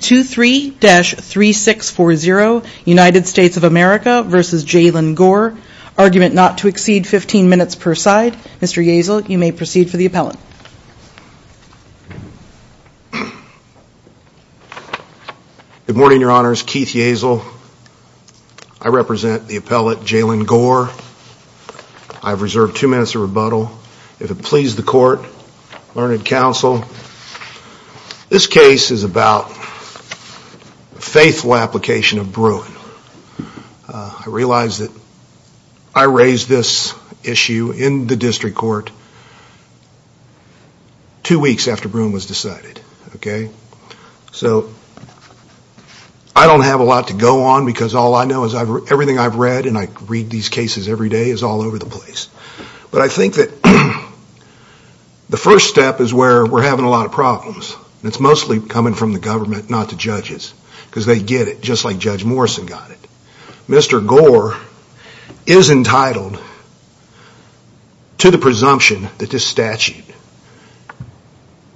23-3640 United States of America v. Jaylan Gore Argument not to exceed 15 minutes per side. Mr. Yaisel, you may proceed for the appellate. Good morning, Your Honors. Keith Yaisel. I represent the appellate Jaylan Gore. I have reserved two minutes of rebuttal. If it pleases the Court, Learned Counsel, this case is about the faithful application of Bruin. I realize that I raised this issue in the District Court two weeks after Bruin was decided. I don't have a lot to go on because all I know is that everything I've read, and I read these cases every day, is all over the place. But I think that the first step is where we're having a lot of problems. It's mostly coming from the government, not the judges, because they get it, just like Judge Morrison got it. Mr. Gore is entitled to the presumption that this statute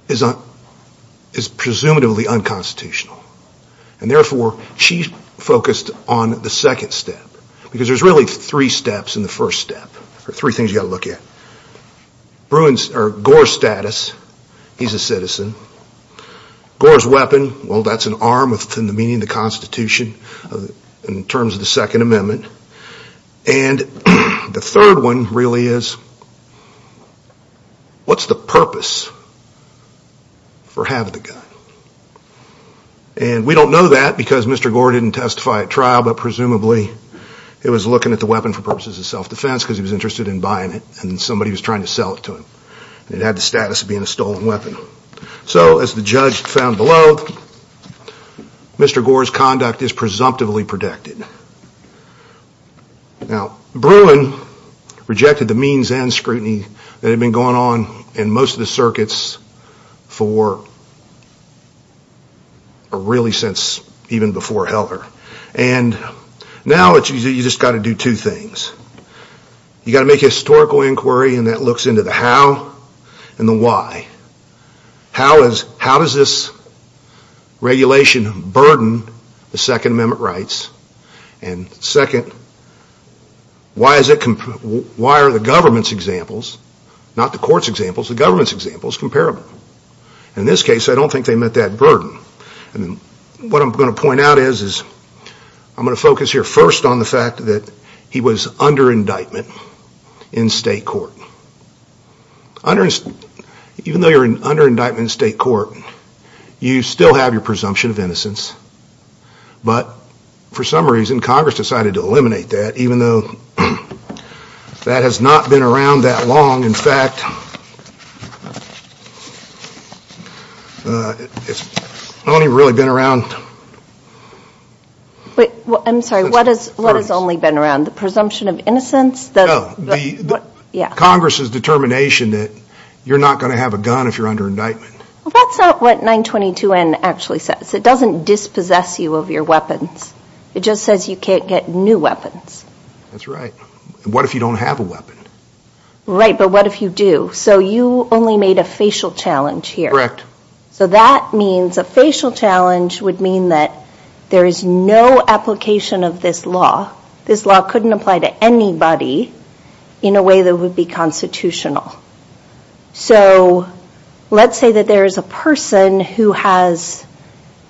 is presumably unconstitutional. Therefore, she focused on the second step, because there's really three steps in the first step, or three things you've got to look at. Gore's status, he's a citizen. Gore's weapon, well, that's an arm within the meaning of the Constitution in terms of the Second Amendment. The third one really is, what's the purpose for having the gun? And we don't know that because Mr. Gore didn't testify at trial, but presumably it was looking at the weapon for purposes of self-defense because he was interested in buying it and somebody was trying to sell it to him. It had the status of being a stolen weapon. So, as the judge found below, Mr. Gore's conduct is presumptively protected. Now, Bruin rejected the means and scrutiny that had been going on in most of the circuits for really since even before Heller. And now you've just got to do two things. You've got to make a historical inquiry and that looks into the how and the why. How does this regulation burden the Second Amendment rights? And second, why are the government's examples, not the court's examples, the government's examples comparable? In this case, I don't think they met that burden. What I'm going to point out is, I'm going to focus here first on the fact that he was under indictment in state court. Even though you're under indictment in state court, you still have your presumption of innocence. But for some reason Congress decided to eliminate that, even though that has not been around that long. In fact, it's only really been around... I'm sorry, what has only been around? The presumption of innocence? Congress's determination that you're not going to have a gun if you're under indictment. That's not what 922N actually says. It doesn't dispossess you of your weapons. It just says you can't get new weapons. That's right. What if you don't have a weapon? Right, but what if you do? So you only made a facial challenge here. Correct. So that means a facial challenge would mean that there is no application of this law. This law couldn't apply to anybody in a way that would be constitutional. So let's say that there is a person who has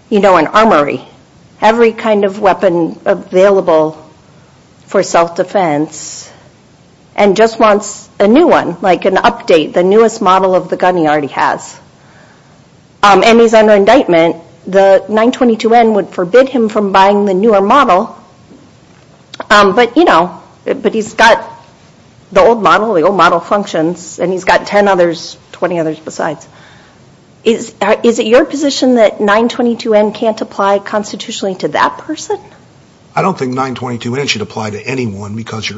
an armory, every kind of weapon available for self-defense, and just wants a new one, like an update, the newest model of the gun he already has. And he's under indictment, the 922N would forbid him from buying the newer model. But he's got the old model, the old model functions, and he's got 10 others, 20 others besides. Is it your position that 922N can't apply constitutionally to that person? I don't think 922N should apply to anyone because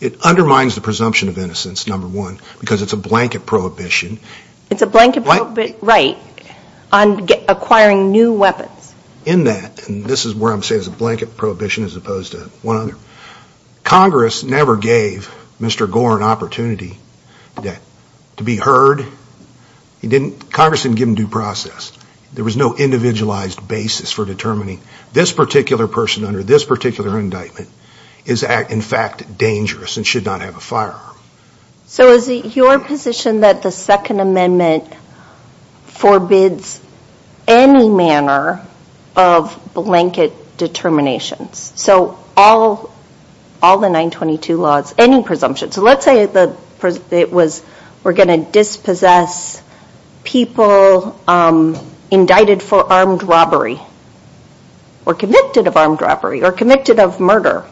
it undermines the presumption of innocence, number one, because it's a blanket prohibition. It's a blanket prohibition, right, on acquiring new weapons. In that, and this is where I'm saying it's a blanket prohibition as opposed to one another. Congress never gave Mr. Gore an opportunity to be heard. Congress didn't give him due process. There was no individualized basis for determining this particular person under this particular indictment is in fact dangerous and should not have a firearm. So is it your position that the Second Amendment forbids any manner of blanket determinations? So all the 922 laws, any presumption. So let's say it was we're going to dispossess people indicted for armed robbery or convicted of armed robbery or committed of murder.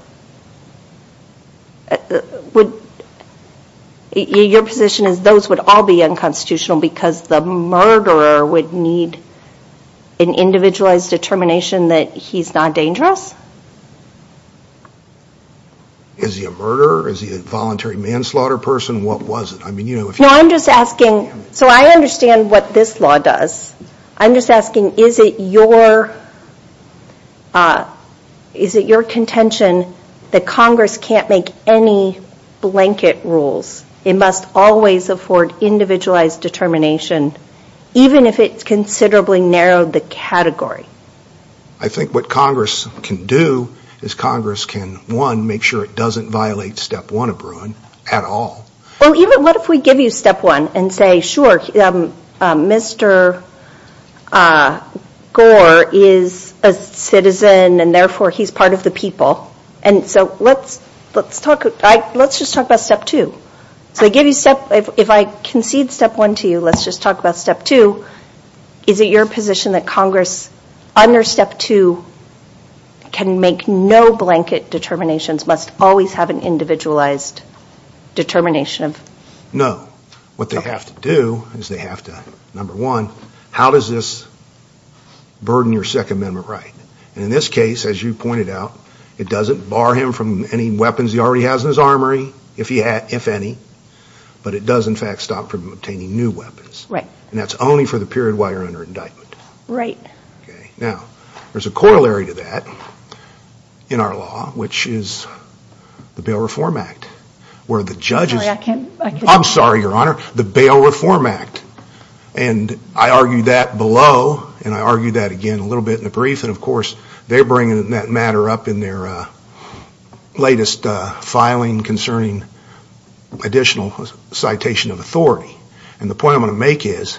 Your position is those would all be unconstitutional because the murderer would need an individualized determination that he's not dangerous? Is he a murderer? Is he a voluntary manslaughter person? What was it? So I understand what this law does. I'm just asking is it your contention that Congress can't make any blanket rules? It must always afford individualized determination even if it's unconstitutional. So what Congress can do is Congress can one, make sure it doesn't violate step one of Bruin at all. Well, even what if we give you step one and say, sure, Mr. Gore is a citizen and therefore he's part of the people. And so let's talk about step two. If I concede step one to you, let's just talk about step two. Is it your position that Congress under step two can make no blanket determinations, must always have an individualized determination? No. What they have to do is they have to, number one, how does this burden your Second Amendment right? And in this case, as you pointed out, it doesn't bar him from any weapons he already has in his armory, if any, but it does in fact stop from obtaining new weapons. And that's only for the period while you're under indictment. Right. Now, there's a corollary to that in our law, which is the Bail Reform Act, where the judge is... I'm sorry, Your Honor, the Bail Reform Act. And I argued that below, and I argued that again a little bit in the brief, and of course they're bringing that matter up in their latest filing concerning additional citation of authority. And the point I'm going to make is,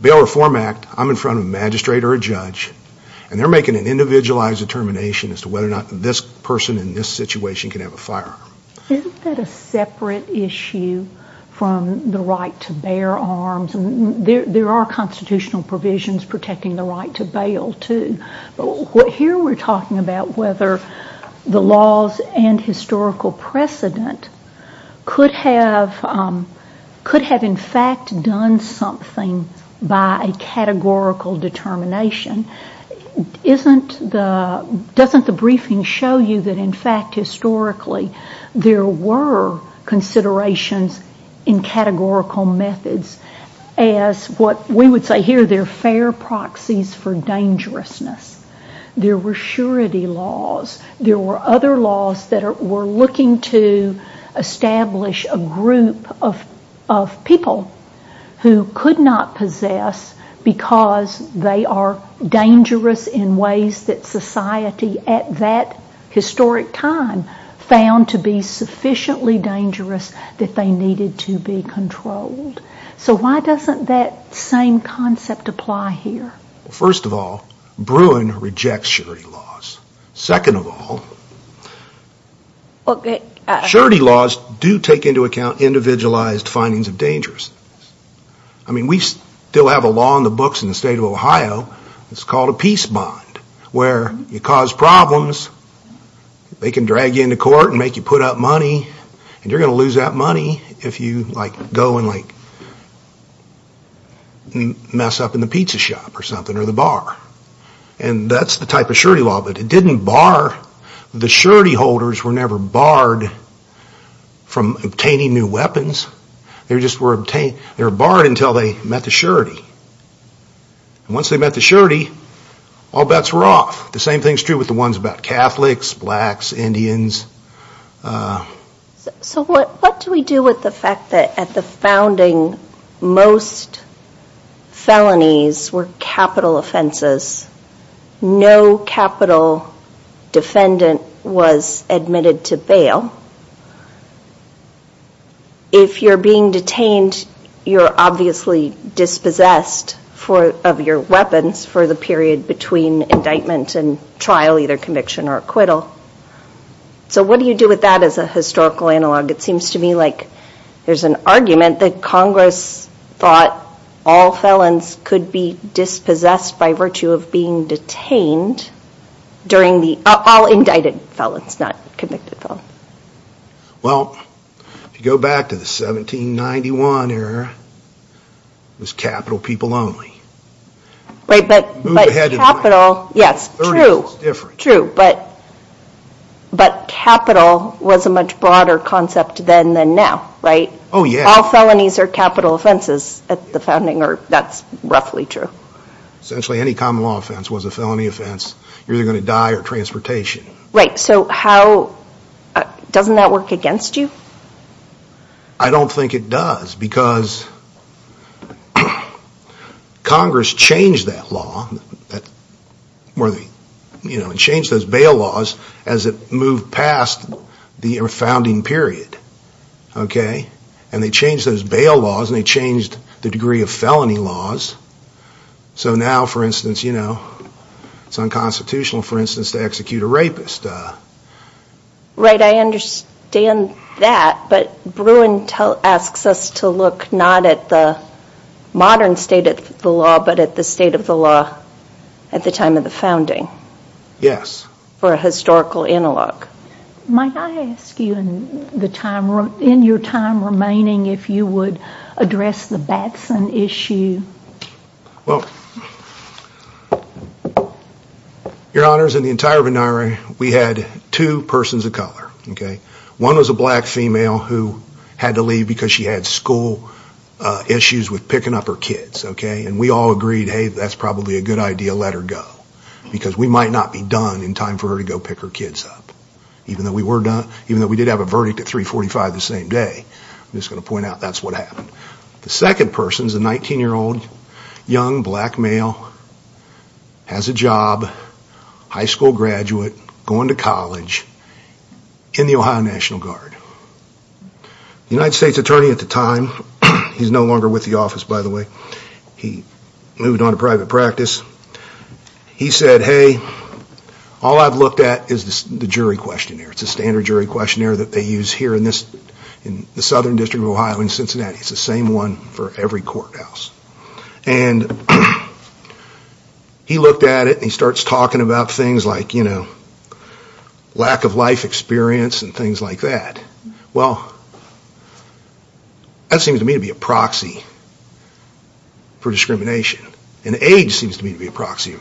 Bail Reform Act, I'm in front of a magistrate or a judge, and they're making an individualized determination as to whether or not this person in this situation can have a firearm. Isn't that a separate issue from the right to bear arms? There are constitutional provisions protecting the right to bail, too. But here we're talking about whether the laws and historical precedent could have in fact done something by a categorical determination. Doesn't the briefing show you that in fact historically there were considerations in categorical methods as what we would say here, they're fair proxies for dangerousness. There were surety laws. There were other laws that were looking to establish a group of people who could not possess because they are dangerous in ways that society at that historic time found to be sufficiently dangerous that they needed to be controlled. So why doesn't that same concept apply here? First of all, Bruin rejects surety laws. Second of all, surety laws do take into account individualized findings of dangerousness. I mean, we still have a law in the books in the state of Ohio that's called a peace bond, where you cause problems, they can drag you into court and make you put up money, and you're going to lose that money if you go and mess up in the pizza shop or something or the bar. And that's the type of surety law. But it didn't bar the surety holders were never barred from obtaining new weapons. They were barred until they met the surety. Once they met the surety, all bets were off. The same thing is true with the ones about Catholics, blacks, Indians. So what do we do with the fact that at the founding most felonies were capital offenses? No capital defendant was admitted to bail. If you're being detained, you're obviously dispossessed of your weapons for the period between indictment and trial, either conviction or acquittal. So what do you do with that as a historical analog? It seems to me like there's an argument that Congress thought all felons could be dispossessed by virtue of being detained during the all indicted felons, not convicted felons. Well, if you go back to the 1791 era, it was capital people only. But capital, yes, true. But capital was a much broader concept then than now, right? All felonies are capital offenses at the founding. That's roughly true. Essentially any common law offense was a felony offense. You're either going to die or transportation. Right. So how, doesn't that work against you? I don't think it does because Congress changed that law, changed those bail laws as it moved past the founding period. And they changed those bail laws and they changed the degree of felony laws. So now, for instance, it's unconstitutional to execute a rapist. Right, I understand that, but Bruin asks us to look not at the modern state of the law, but at the state of the law at the time of the founding. Yes. For a historical analog. Might I ask you in your time remaining if you would address the Batson issue? Well, Your Honors, in the entire history of the state of Ohio, I believe because she had school issues with picking up her kids. And we all agreed, hey, that's probably a good idea, let her go. Because we might not be done in time for her to go pick her kids up. Even though we did have a verdict at 345 the same day. I'm just going to point out that's what happened. The second person is a 19-year-old young black male, has a job, high school graduate, going to college in the Ohio National Guard. The United States Attorney at the time, he's no longer with the office by the way, he moved on to private practice, he said, hey, all I've looked at is the standard jury questionnaire that they use here in the Southern District of Ohio in Cincinnati. It's the same one for every courthouse. He looked at it and he starts talking about things like lack of life experience and things like that. That seems to me to be a proxy for discrimination. And age seems to me to be a proxy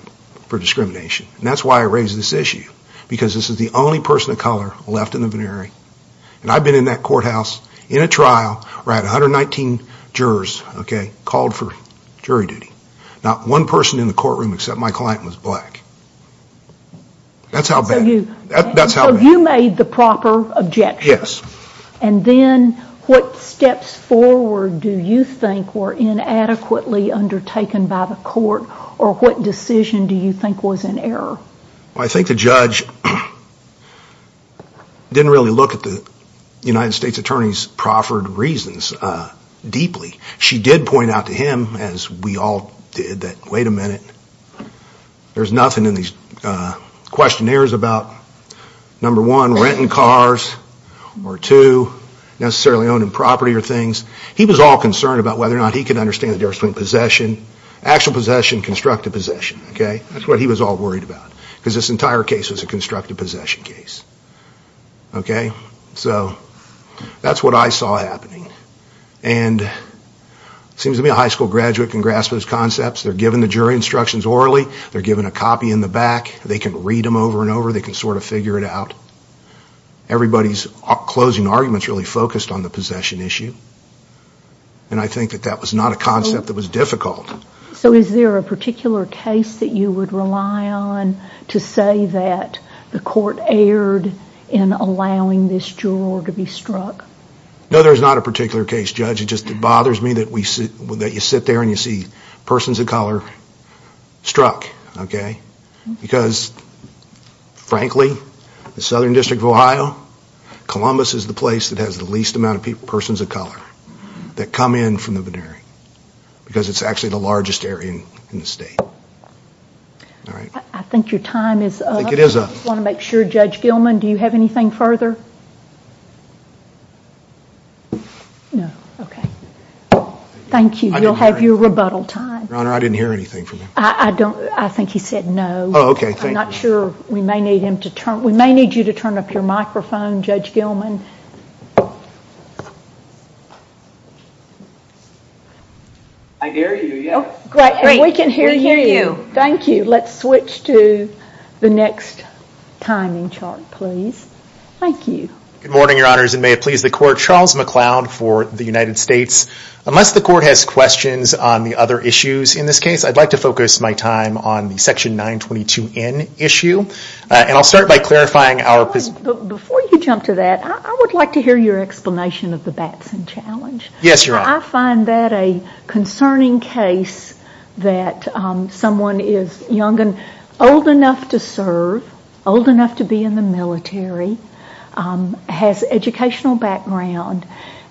for discrimination. And that's why I raise this issue. Because this is the only person of color left in the vinery. And I've been in that courthouse in a trial where I had 119 jurors called for jury duty. Not one person in the courtroom except my client was black. That's how bad it is. So you made the proper objection. And then what steps forward do you think were inadequately undertaken by the court or what decision do you think was in error? I think the judge didn't really look at the United States Attorney's proffered reasons deeply. She did point out to him, as we all did, that wait a minute, there's nothing in these questionnaires about number one, renting cars, or two, necessarily owning property or things. He was all concerned about whether or not he could understand the difference between possession, actual possession and constructive possession. That's what he was all worried about. Because this entire case was a constructive possession case. So that's what I saw happening. And it seems to me a high school graduate can grasp those concepts. They're given the jury instructions orally. They're given a copy in the back. They can read them over and over. They can sort of figure it out. Everybody's closing arguments really focused on the possession issue. And I think that that was not a concept that was difficult. So is there a particular case that you would rely on to say that the court erred in allowing this juror to be struck? No, there's not a particular case, Judge. It just bothers me that you sit there and you see persons of color struck. Because frankly, the Southern District of Ohio, Columbus is the place that has the least amount of and the largest area in the state. I think your time is up. Judge Gilman, do you have anything further? No. Okay. Thank you. You'll have your rebuttal time. Your Honor, I didn't hear anything from him. I think he said no. We may need you to turn up your microphone, Judge Gilman. I hear you. Great. We can hear you. Thank you. Let's switch to the next timing chart, please. Thank you. Good morning, Your Honors, and may it please the Court. Charles McLeod for the United States. Unless the Court has questions on the other issues in this case, I'd like to focus my time on the Section 922N issue, and I'll start by clarifying our position. Before you jump to that, I would like to hear your explanation of the Batson Challenge. Yes, Your Honor. I find that a concerning case that someone is young enough to serve, old enough to be in the military, has educational background,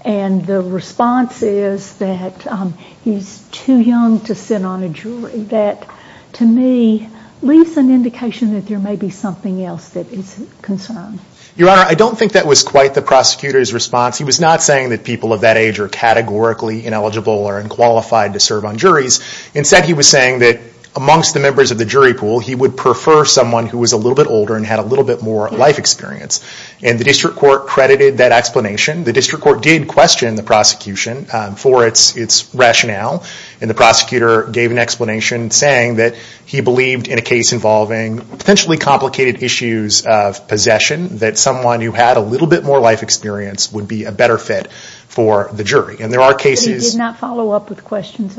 and the response is that he's too young to sit on a jury. That, to me, leaves an indication that there may be something else that is concerned. Your Honor, I don't think that was quite the prosecutor's response. He was not saying that people of that age are categorically ineligible or unqualified to serve on juries. Instead, he was saying that amongst the members of the jury pool, he would prefer someone who was a little bit older and had a little bit more life experience. And the District Court credited that explanation. The District Court did question the prosecution for its rationale, and the prosecutor gave an explanation saying that he believed in a case involving potentially complicated issues of possession, that someone who had a little bit more life experience would be a better fit for the jury. And there are cases... If that prosecutor had follow-up with questions,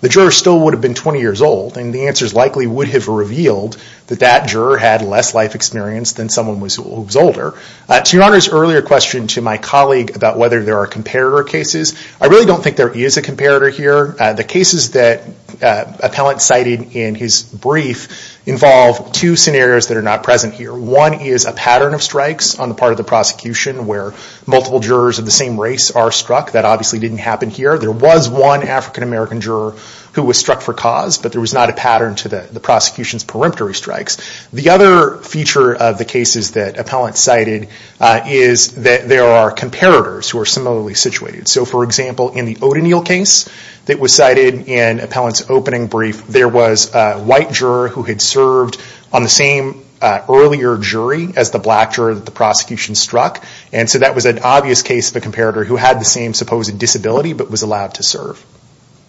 the juror still would have been 20 years old, and the answers likely would have revealed that that juror had less life experience than someone who was older. To Your Honor's earlier question to my colleague about whether there are comparator cases, I really don't think there is a comparator here. The cases that Appellant cited in his brief involve two scenarios that are not present here. One is a pattern of strikes on the part of the prosecution where multiple jurors of the same race are struck. That obviously didn't happen here. There was one African-American juror who was struck for cause, but there was not a pattern to the prosecution's peremptory strikes. The other feature of the cases that Appellant cited is that there are comparators who are similarly situated. So, for example, in the O'Donnell case that was cited in Appellant's opening brief, there was a white juror who had served on the same earlier jury as the black juror that the prosecution struck. And so that was an obvious case of a comparator who had the same supposed disability, but was allowed to serve.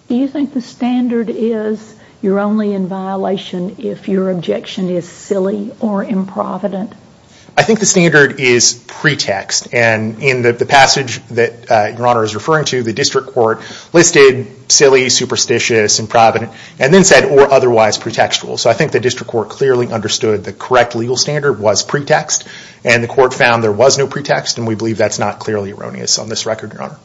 Do you think the standard is you're only in violation if your objection is silly or improvident? I think the standard is pretext. And in the passage that Your Honor is referring to, the district court listed silly, superstitious, improvident, and then said or otherwise pretextual. So I think the district court clearly understood the correct legal standard was pretext, and the court found there was no pretext, and we believe that's not clearly erroneous on this record, Your Honor.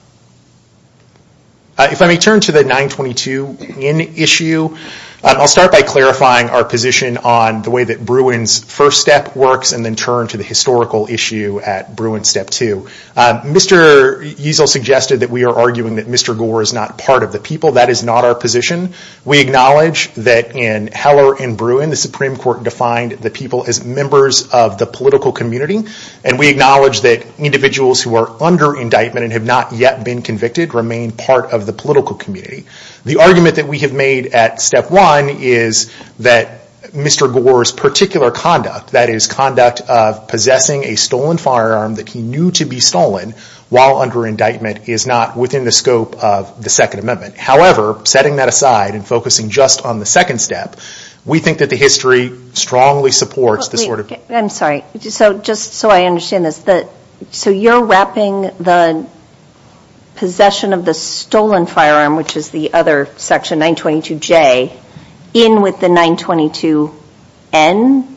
If I may turn to the 922 in issue, I'll start by clarifying our position on the way that Bruin's first step works, and then turn to the historical issue at Bruin Step 2. Mr. Easel suggested that we are arguing that Mr. Gore is not part of the people. That is not our position. We acknowledge that in Heller and Bruin, the Supreme Court defined the people as members of the political community, and we acknowledge that individuals who are under indictment and have not yet been convicted remain part of the political community. The argument that we have made at Step 1 is that Mr. Gore's particular conduct, that is conduct of possessing a stolen firearm that he knew to be stolen while under indictment is not within the scope of the Second Amendment. However, setting that aside and focusing just on the second step, we think that the history strongly supports the sort of... I'm sorry. Just so I understand this, so you're wrapping the possession of the stolen firearm, which is the other section, 922J, in with the 922N?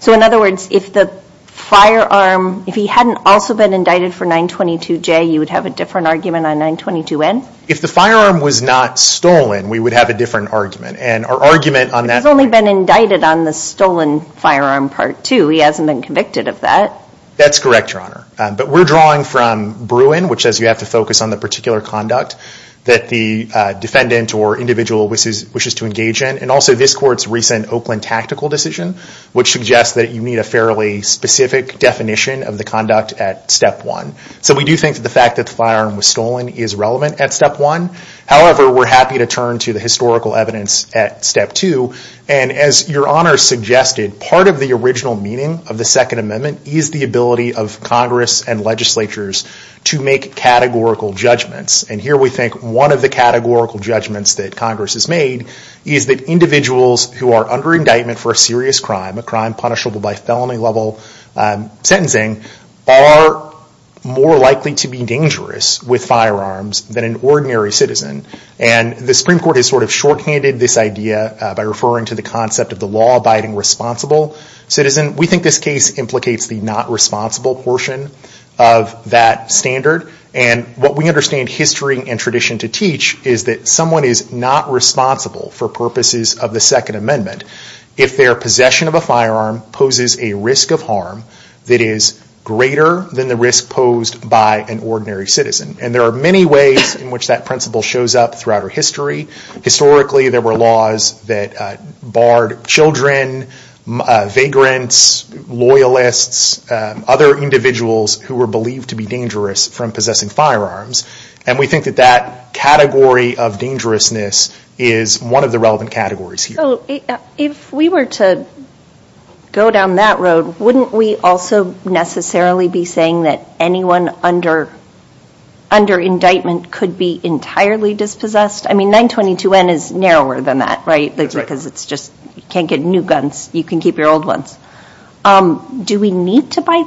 So in other words, if the firearm... If he hadn't also been indicted for 922J, you would have a different argument on 922N? If the firearm was not stolen, we would have a different argument, and our argument on that... He's only been indicted on the stolen firearm Part 2. He hasn't been convicted of that. That's correct, Your Honor. But we're drawing from Bruin, which says you have to focus on the particular conduct that the defendant or individual wishes to engage in, and also this court's recent Oakland tactical decision, which suggests that you need a fairly specific definition of the conduct at Step 1. So we do think that the fact that the firearm was stolen is relevant at Step 1. However, we're happy to turn to the historical evidence at Step 2, and as Your Honor suggested, part of the original meaning of the Second Amendment is the ability of Congress and legislatures to make categorical judgments. And here we think one of the categorical judgments that Congress has made is that individuals who are under indictment for a serious crime, a crime punishable by felony level sentencing, are more likely to be dangerous with firearms than an ordinary citizen. And the Supreme Court has sort of shorthanded this idea by referring to the concept of the law abiding responsible citizen. We think this case implicates the not responsible portion of that standard. And what we understand history and tradition to teach is that someone is not responsible for purposes of the Second Amendment if their possession of a firearm poses a risk of harm that is greater than the risk posed by an ordinary citizen. And there are many ways in which that principle shows up throughout our history. Historically there were laws that barred children, vagrants, loyalists, other individuals who were believed to be dangerous from possessing firearms. And we think that that category of dangerousness is one of the relevant categories here. If we were to go down that road, wouldn't we also necessarily be saying that anyone under indictment could be entirely dispossessed? I mean, 922N is narrower than that, right? Because it's just, you can't get new guns. You can keep your old ones. Do we need to buy?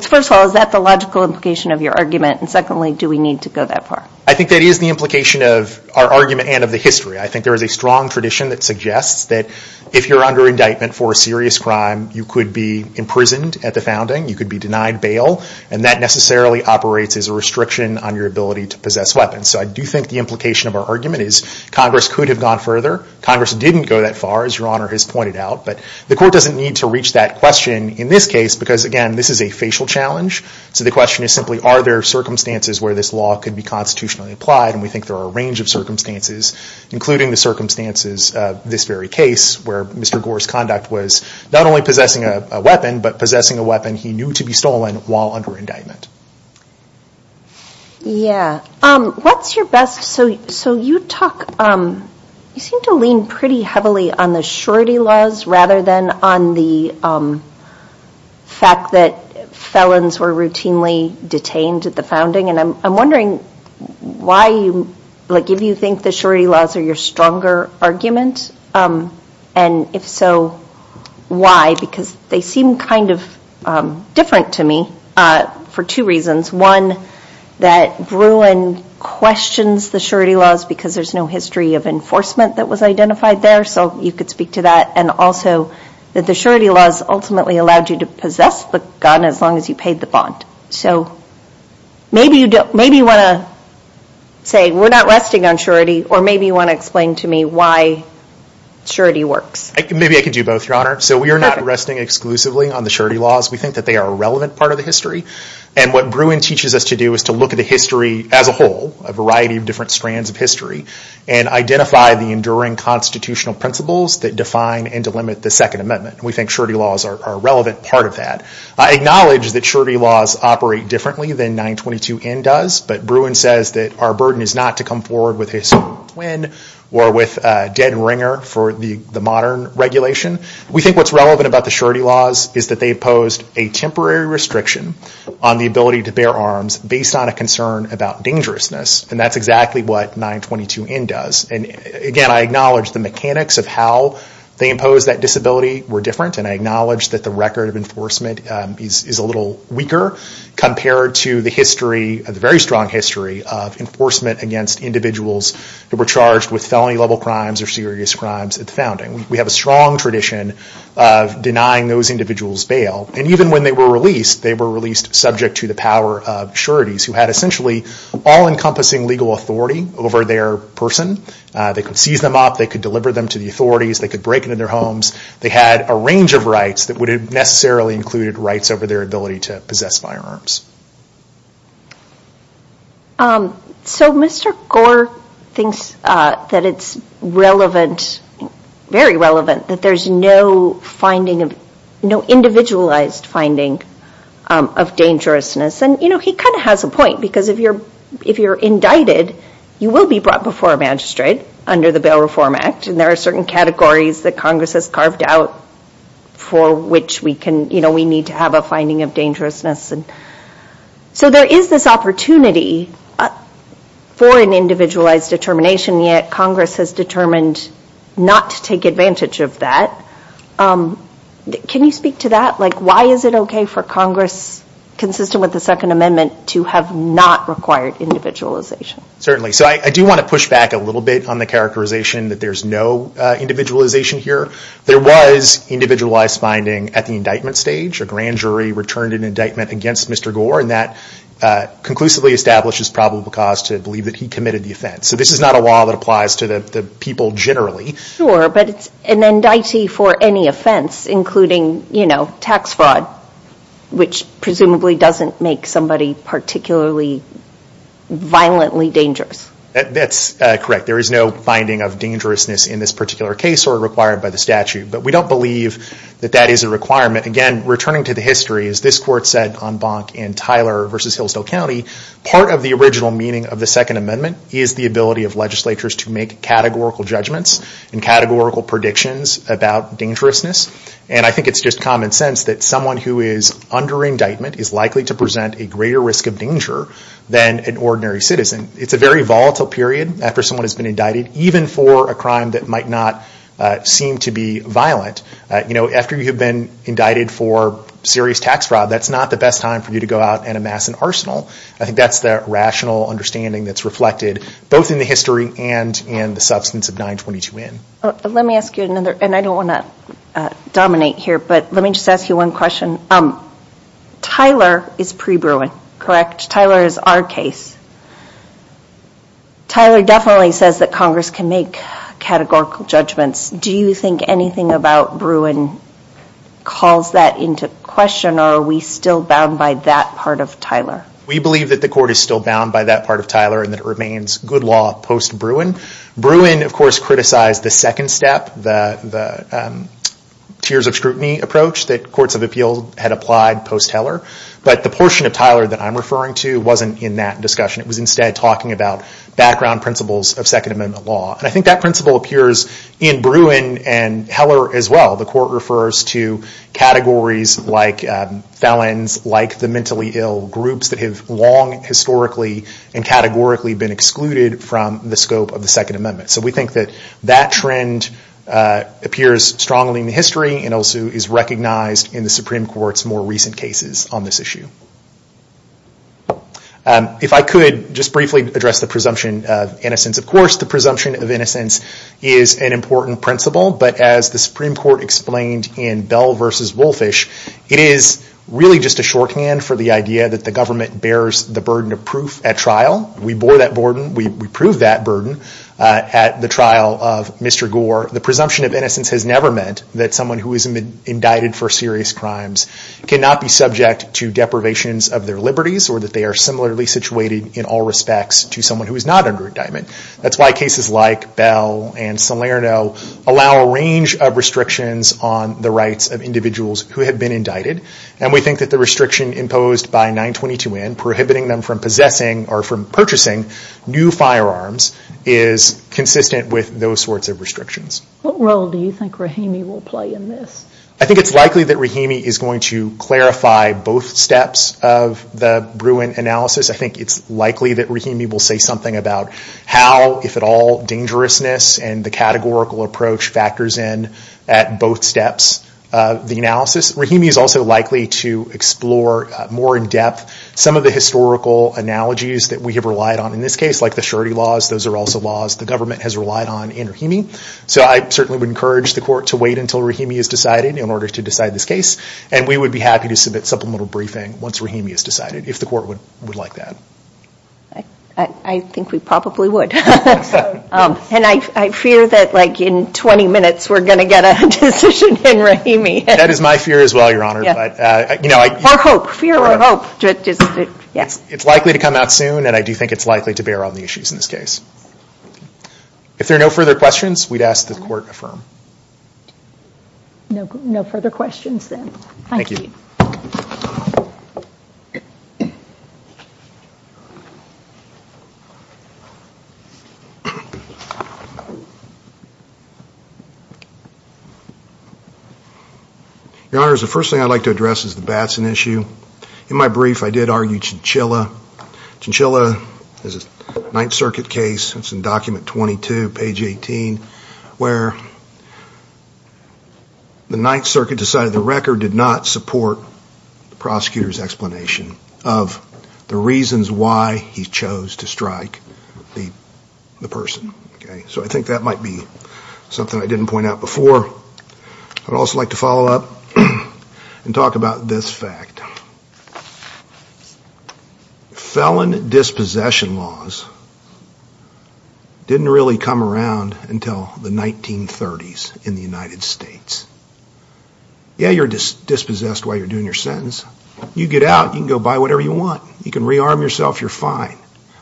First of all, is that the logical implication of your argument? And secondly, do we need to go that far? I think that is the implication of our argument and of the history. I think there is a strong tradition that suggests that if you're under indictment for a serious crime, you could be imprisoned at the founding. You could be denied bail. And that necessarily operates as a restriction on your ability to possess weapons. So I do think the implication of our argument is Congress could have gone further. Congress didn't go that far, as Your Honor has pointed out. But the Court doesn't need to reach that question in this case because, again, this is a facial challenge. So the question is simply, are there circumstances where this law could be constitutionally applied? And we think there are a range of circumstances, including the circumstances of this very case, where Mr. Gore's conduct was not only possessing a weapon, but possessing a weapon he knew to be stolen while under indictment. Yeah. What's your best, so you talk, you seem to lean pretty heavily on the surety laws rather than on the fact that felons were routinely detained at the founding. And I'm wondering why you, like, if you think the surety laws are your stronger argument? And if so, why? Because they seem kind of different to me for two reasons. One, that Bruin questions the surety laws because there's no history of enforcement that was identified there. So you could speak to that. And also that the surety laws ultimately allowed you to possess the gun as long as you paid the bond. So maybe you want to say we're not resting on surety, or maybe you want to explain to me why surety works. Maybe I could do both, Your Honor. So we are not resting exclusively on the surety laws. We think that they are a relevant part of the history. And what Bruin teaches us to do is to look at the history as a whole, a variety of different strands of history, and identify the enduring constitutional principles that define and delimit the Second Amendment. And we think surety laws are a relevant part of that. I acknowledge that surety laws operate differently than 922N does, but Bruin says that our burden is not to come forward with a swine or with a dead ringer for the modern regulation. We think what's relevant about the surety laws is that they imposed a temporary restriction on the ability to bear arms based on a concern about dangerousness, and that's exactly what 922N does. Again, I acknowledge the mechanics of how they imposed that disability were different, and I acknowledge that the record of enforcement is a little weaker compared to the history, the very strong history of enforcement against individuals who were charged with felony level crimes or serious crimes at the founding. We have a strong tradition of denying those individuals bail. And even when they were released, they were released subject to the power of sureties, who had essentially all-encompassing legal authority over their person. They could seize them up, they could deliver them to the authorities, they could break into their homes. They had a range of rights that would have necessarily included rights over their ability to possess firearms. So Mr. Gore thinks that it's relevant, very relevant, that there's no individualized finding of dangerousness. And he kind of has a point, because if you're indicted, you will be brought before a magistrate under the Bail Reform Act, and there are certain categories that Congress has carved out for which we need to have a finding of dangerousness. So there is this opportunity for an individualized determination, yet Congress has determined not to take advantage of that. Can you speak to that? Like why is it okay for Congress, consistent with the Second Amendment, to have not required individualization? Certainly. So I do want to push back a little bit on the characterization that there's no individualization here. There was individualized finding at the indictment stage. A grand jury returned an indictment against Mr. Gore, and that conclusively establishes probable cause to believe that he committed the offense. So this is not a law that applies to the people generally. Sure, but it's an indictee for any offense, including tax fraud, which presumably doesn't make somebody particularly violently dangerous. That's correct. There is no finding of dangerousness in this particular case or required by the statute. But we don't believe that that is a requirement. Again, returning to the history, as this Court said on Bonk v. Tyler v. Hillsdale County, part of the original meaning of the Second Amendment is the ability of legislatures to make categorical judgments and categorical predictions about dangerousness. And I think it's just common sense that someone who is under indictment is likely to present a greater risk of danger than an ordinary citizen. It's a very volatile period after someone has been indicted, even for a crime that might not seem to be violent. After you've been indicted for serious tax fraud, that's not the best time for you to go out and amass an arsenal. I think that's the rational understanding that's reflected both in the history and in the substance of 922N. Let me ask you another, and I don't want to dominate here, but let me just ask you one question. Tyler is pre-Bruin, correct? Tyler is our case. Tyler definitely says that Congress can make categorical judgments. Do you think anything about Bruin calls that into question, or are we still bound by that part of Tyler? We believe that the Court is still bound by that part of Tyler and that it remains good law post-Bruin. Bruin, of course, criticized the second step, the tiers of scrutiny approach that courts of appeals had applied post-Heller, but the portion of Tyler that I'm referring to wasn't in that discussion. It was instead talking about background principles of Second Amendment law, and I think that principle appears in Bruin and Heller as well. The Court refers to categories like felons, like the mentally ill, groups that have long historically and categorically been excluded from the scope of the Second Amendment. So we think that that trend appears strongly in the history and also is recognized in the Supreme Court's more recent cases on this issue. If I could just briefly address the presumption of innocence, of course the presumption of innocence is an important principle, but as the Supreme Court explained in Bell v. Woolfish, it is really just a shorthand for the idea that the government bears the burden of proof at trial. We bore that burden. We proved that burden at the trial of Mr. Gore. The presumption of innocence has never meant that someone who is indicted for serious crimes cannot be subject to deprivations of their liberties or that they are similarly situated in all respects to someone who is not under indictment. That's why cases like Bell and Salerno allow a range of restrictions on the rights of individuals who have been indicted, and we think that the restriction imposed by 922N, prohibiting them from purchasing new firearms, is consistent with those sorts of restrictions. What role do you think Rahimi will play in this? I think it's likely that Rahimi is going to clarify both steps of the Bruin analysis. I think it's likely that Rahimi will say something about how, if at all, dangerousness and the categorical approach factors in at both steps of the analysis. Rahimi is also likely to explore more in depth some of the historical analogies that we have relied on. In this case, like the surety laws, those are also laws the government has relied on in Rahimi. I certainly would encourage the court to wait until Rahimi is decided in order to decide this case, and we would be happy to submit supplemental briefing once Rahimi is decided, if the court would like that. I think we probably would. I fear that in 20 minutes we're going to get a decision in Rahimi. That is my fear as well, Your Honor. It's likely to come out soon, and I do think it's likely to bear on the issues in this case. If there are no further questions, we'd ask that the court affirm. No further questions then. Thank you. Your Honor, the first thing I'd like to address is the Batson issue. In my brief, I did argue Chinchilla. Chinchilla is a Ninth Circuit case, it's in document 22, page 18, where the Ninth Circuit decided the record did not support the prosecutor's explanation of the reasons why he chose to strike the person. So I think that might be something I didn't point out before. I'd also like to follow up and talk about this fact. Felon dispossession laws didn't really come around until the 1930s in the United States. Yeah, you're dispossessed while you're doing your sentence. You get out, you can go buy whatever you want, you can rearm yourself, you're fine.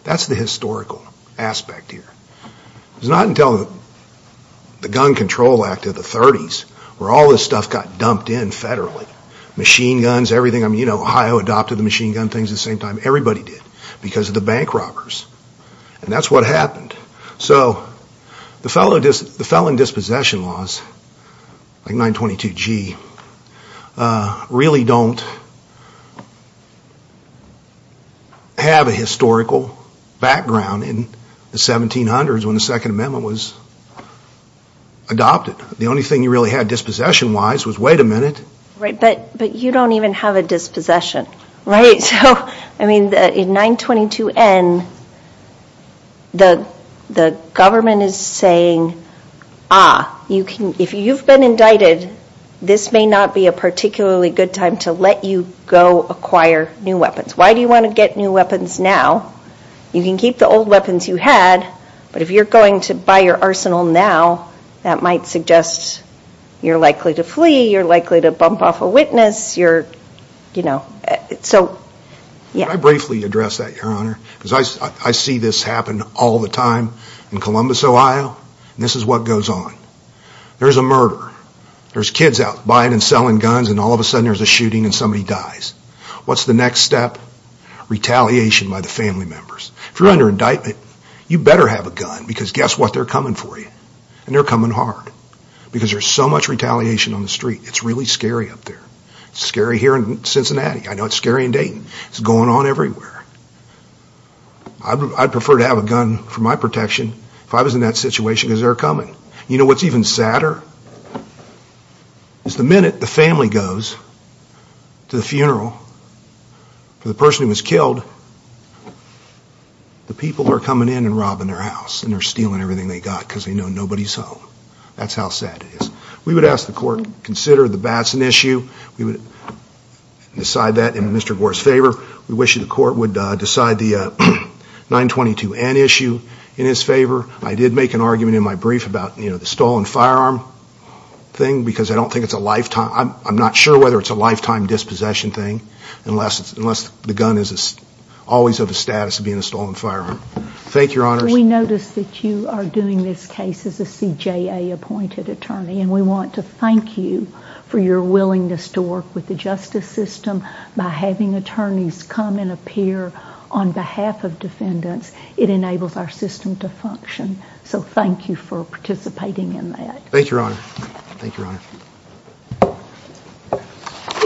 That's the historical aspect here. It's not until the Gun Control Act of the 30s where all this stuff got dumped in federally. Machine guns, Ohio adopted the machine gun things at the same time. Everybody did, because of the bank robbers. And that's what happened. So the felon dispossession laws, like 922G, really don't have a historical background in the 1700s when the Second Amendment was adopted. The only thing you really had dispossession-wise was, wait a minute. Right, but you don't even have a dispossession. In 922N, the government is saying, ah, if you've been indicted, this may not be a particularly good time to let you go acquire new weapons. Why do you want to get new weapons now? You can keep the old weapons you had, but if you're going to buy your arsenal now, that might suggest you're likely to flee, you're likely to bump off a witness. Can I briefly address that, Your Honor? I see this happen all the time in Columbus, Ohio, and this is what goes on. There's a murder, there's kids out buying and selling guns, and all of a sudden there's a shooting and somebody dies. What's the next step? Retaliation by the family members. If you're under indictment, you better have a gun, because guess what, they're coming for you. And they're coming hard, because there's so much retaliation on the street, it's really scary up there. It's scary here in Cincinnati, I know it's scary in Dayton, it's going on everywhere. I'd prefer to have a gun for my protection if I was in that situation, because they're coming. You know what's even sadder? The minute the family goes to the funeral for the person who was killed, the people are coming in and robbing their house, and they're stealing everything they've got, because they know nobody's home. That's how sad it is. We would ask the court to consider the Batson issue, decide that in Mr. Gore's favor. We wish the court would decide the 922N issue in his favor. I did make an argument in my brief about the stolen firearm thing, because I'm not sure whether it's a lifetime dispossession thing, unless the gun is always of the status of being a stolen firearm. We notice that you are doing this case as a CJA appointed attorney, and we want to thank you for your willingness to work with the justice system by having attorneys come and appear on behalf of defendants. It enables our system to function, so thank you for participating in that. Thank you, Your Honor.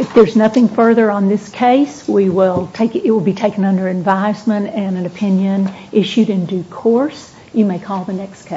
If there's nothing further on this case, it will be taken under advisement and an opinion issued in due course. You may call the next case.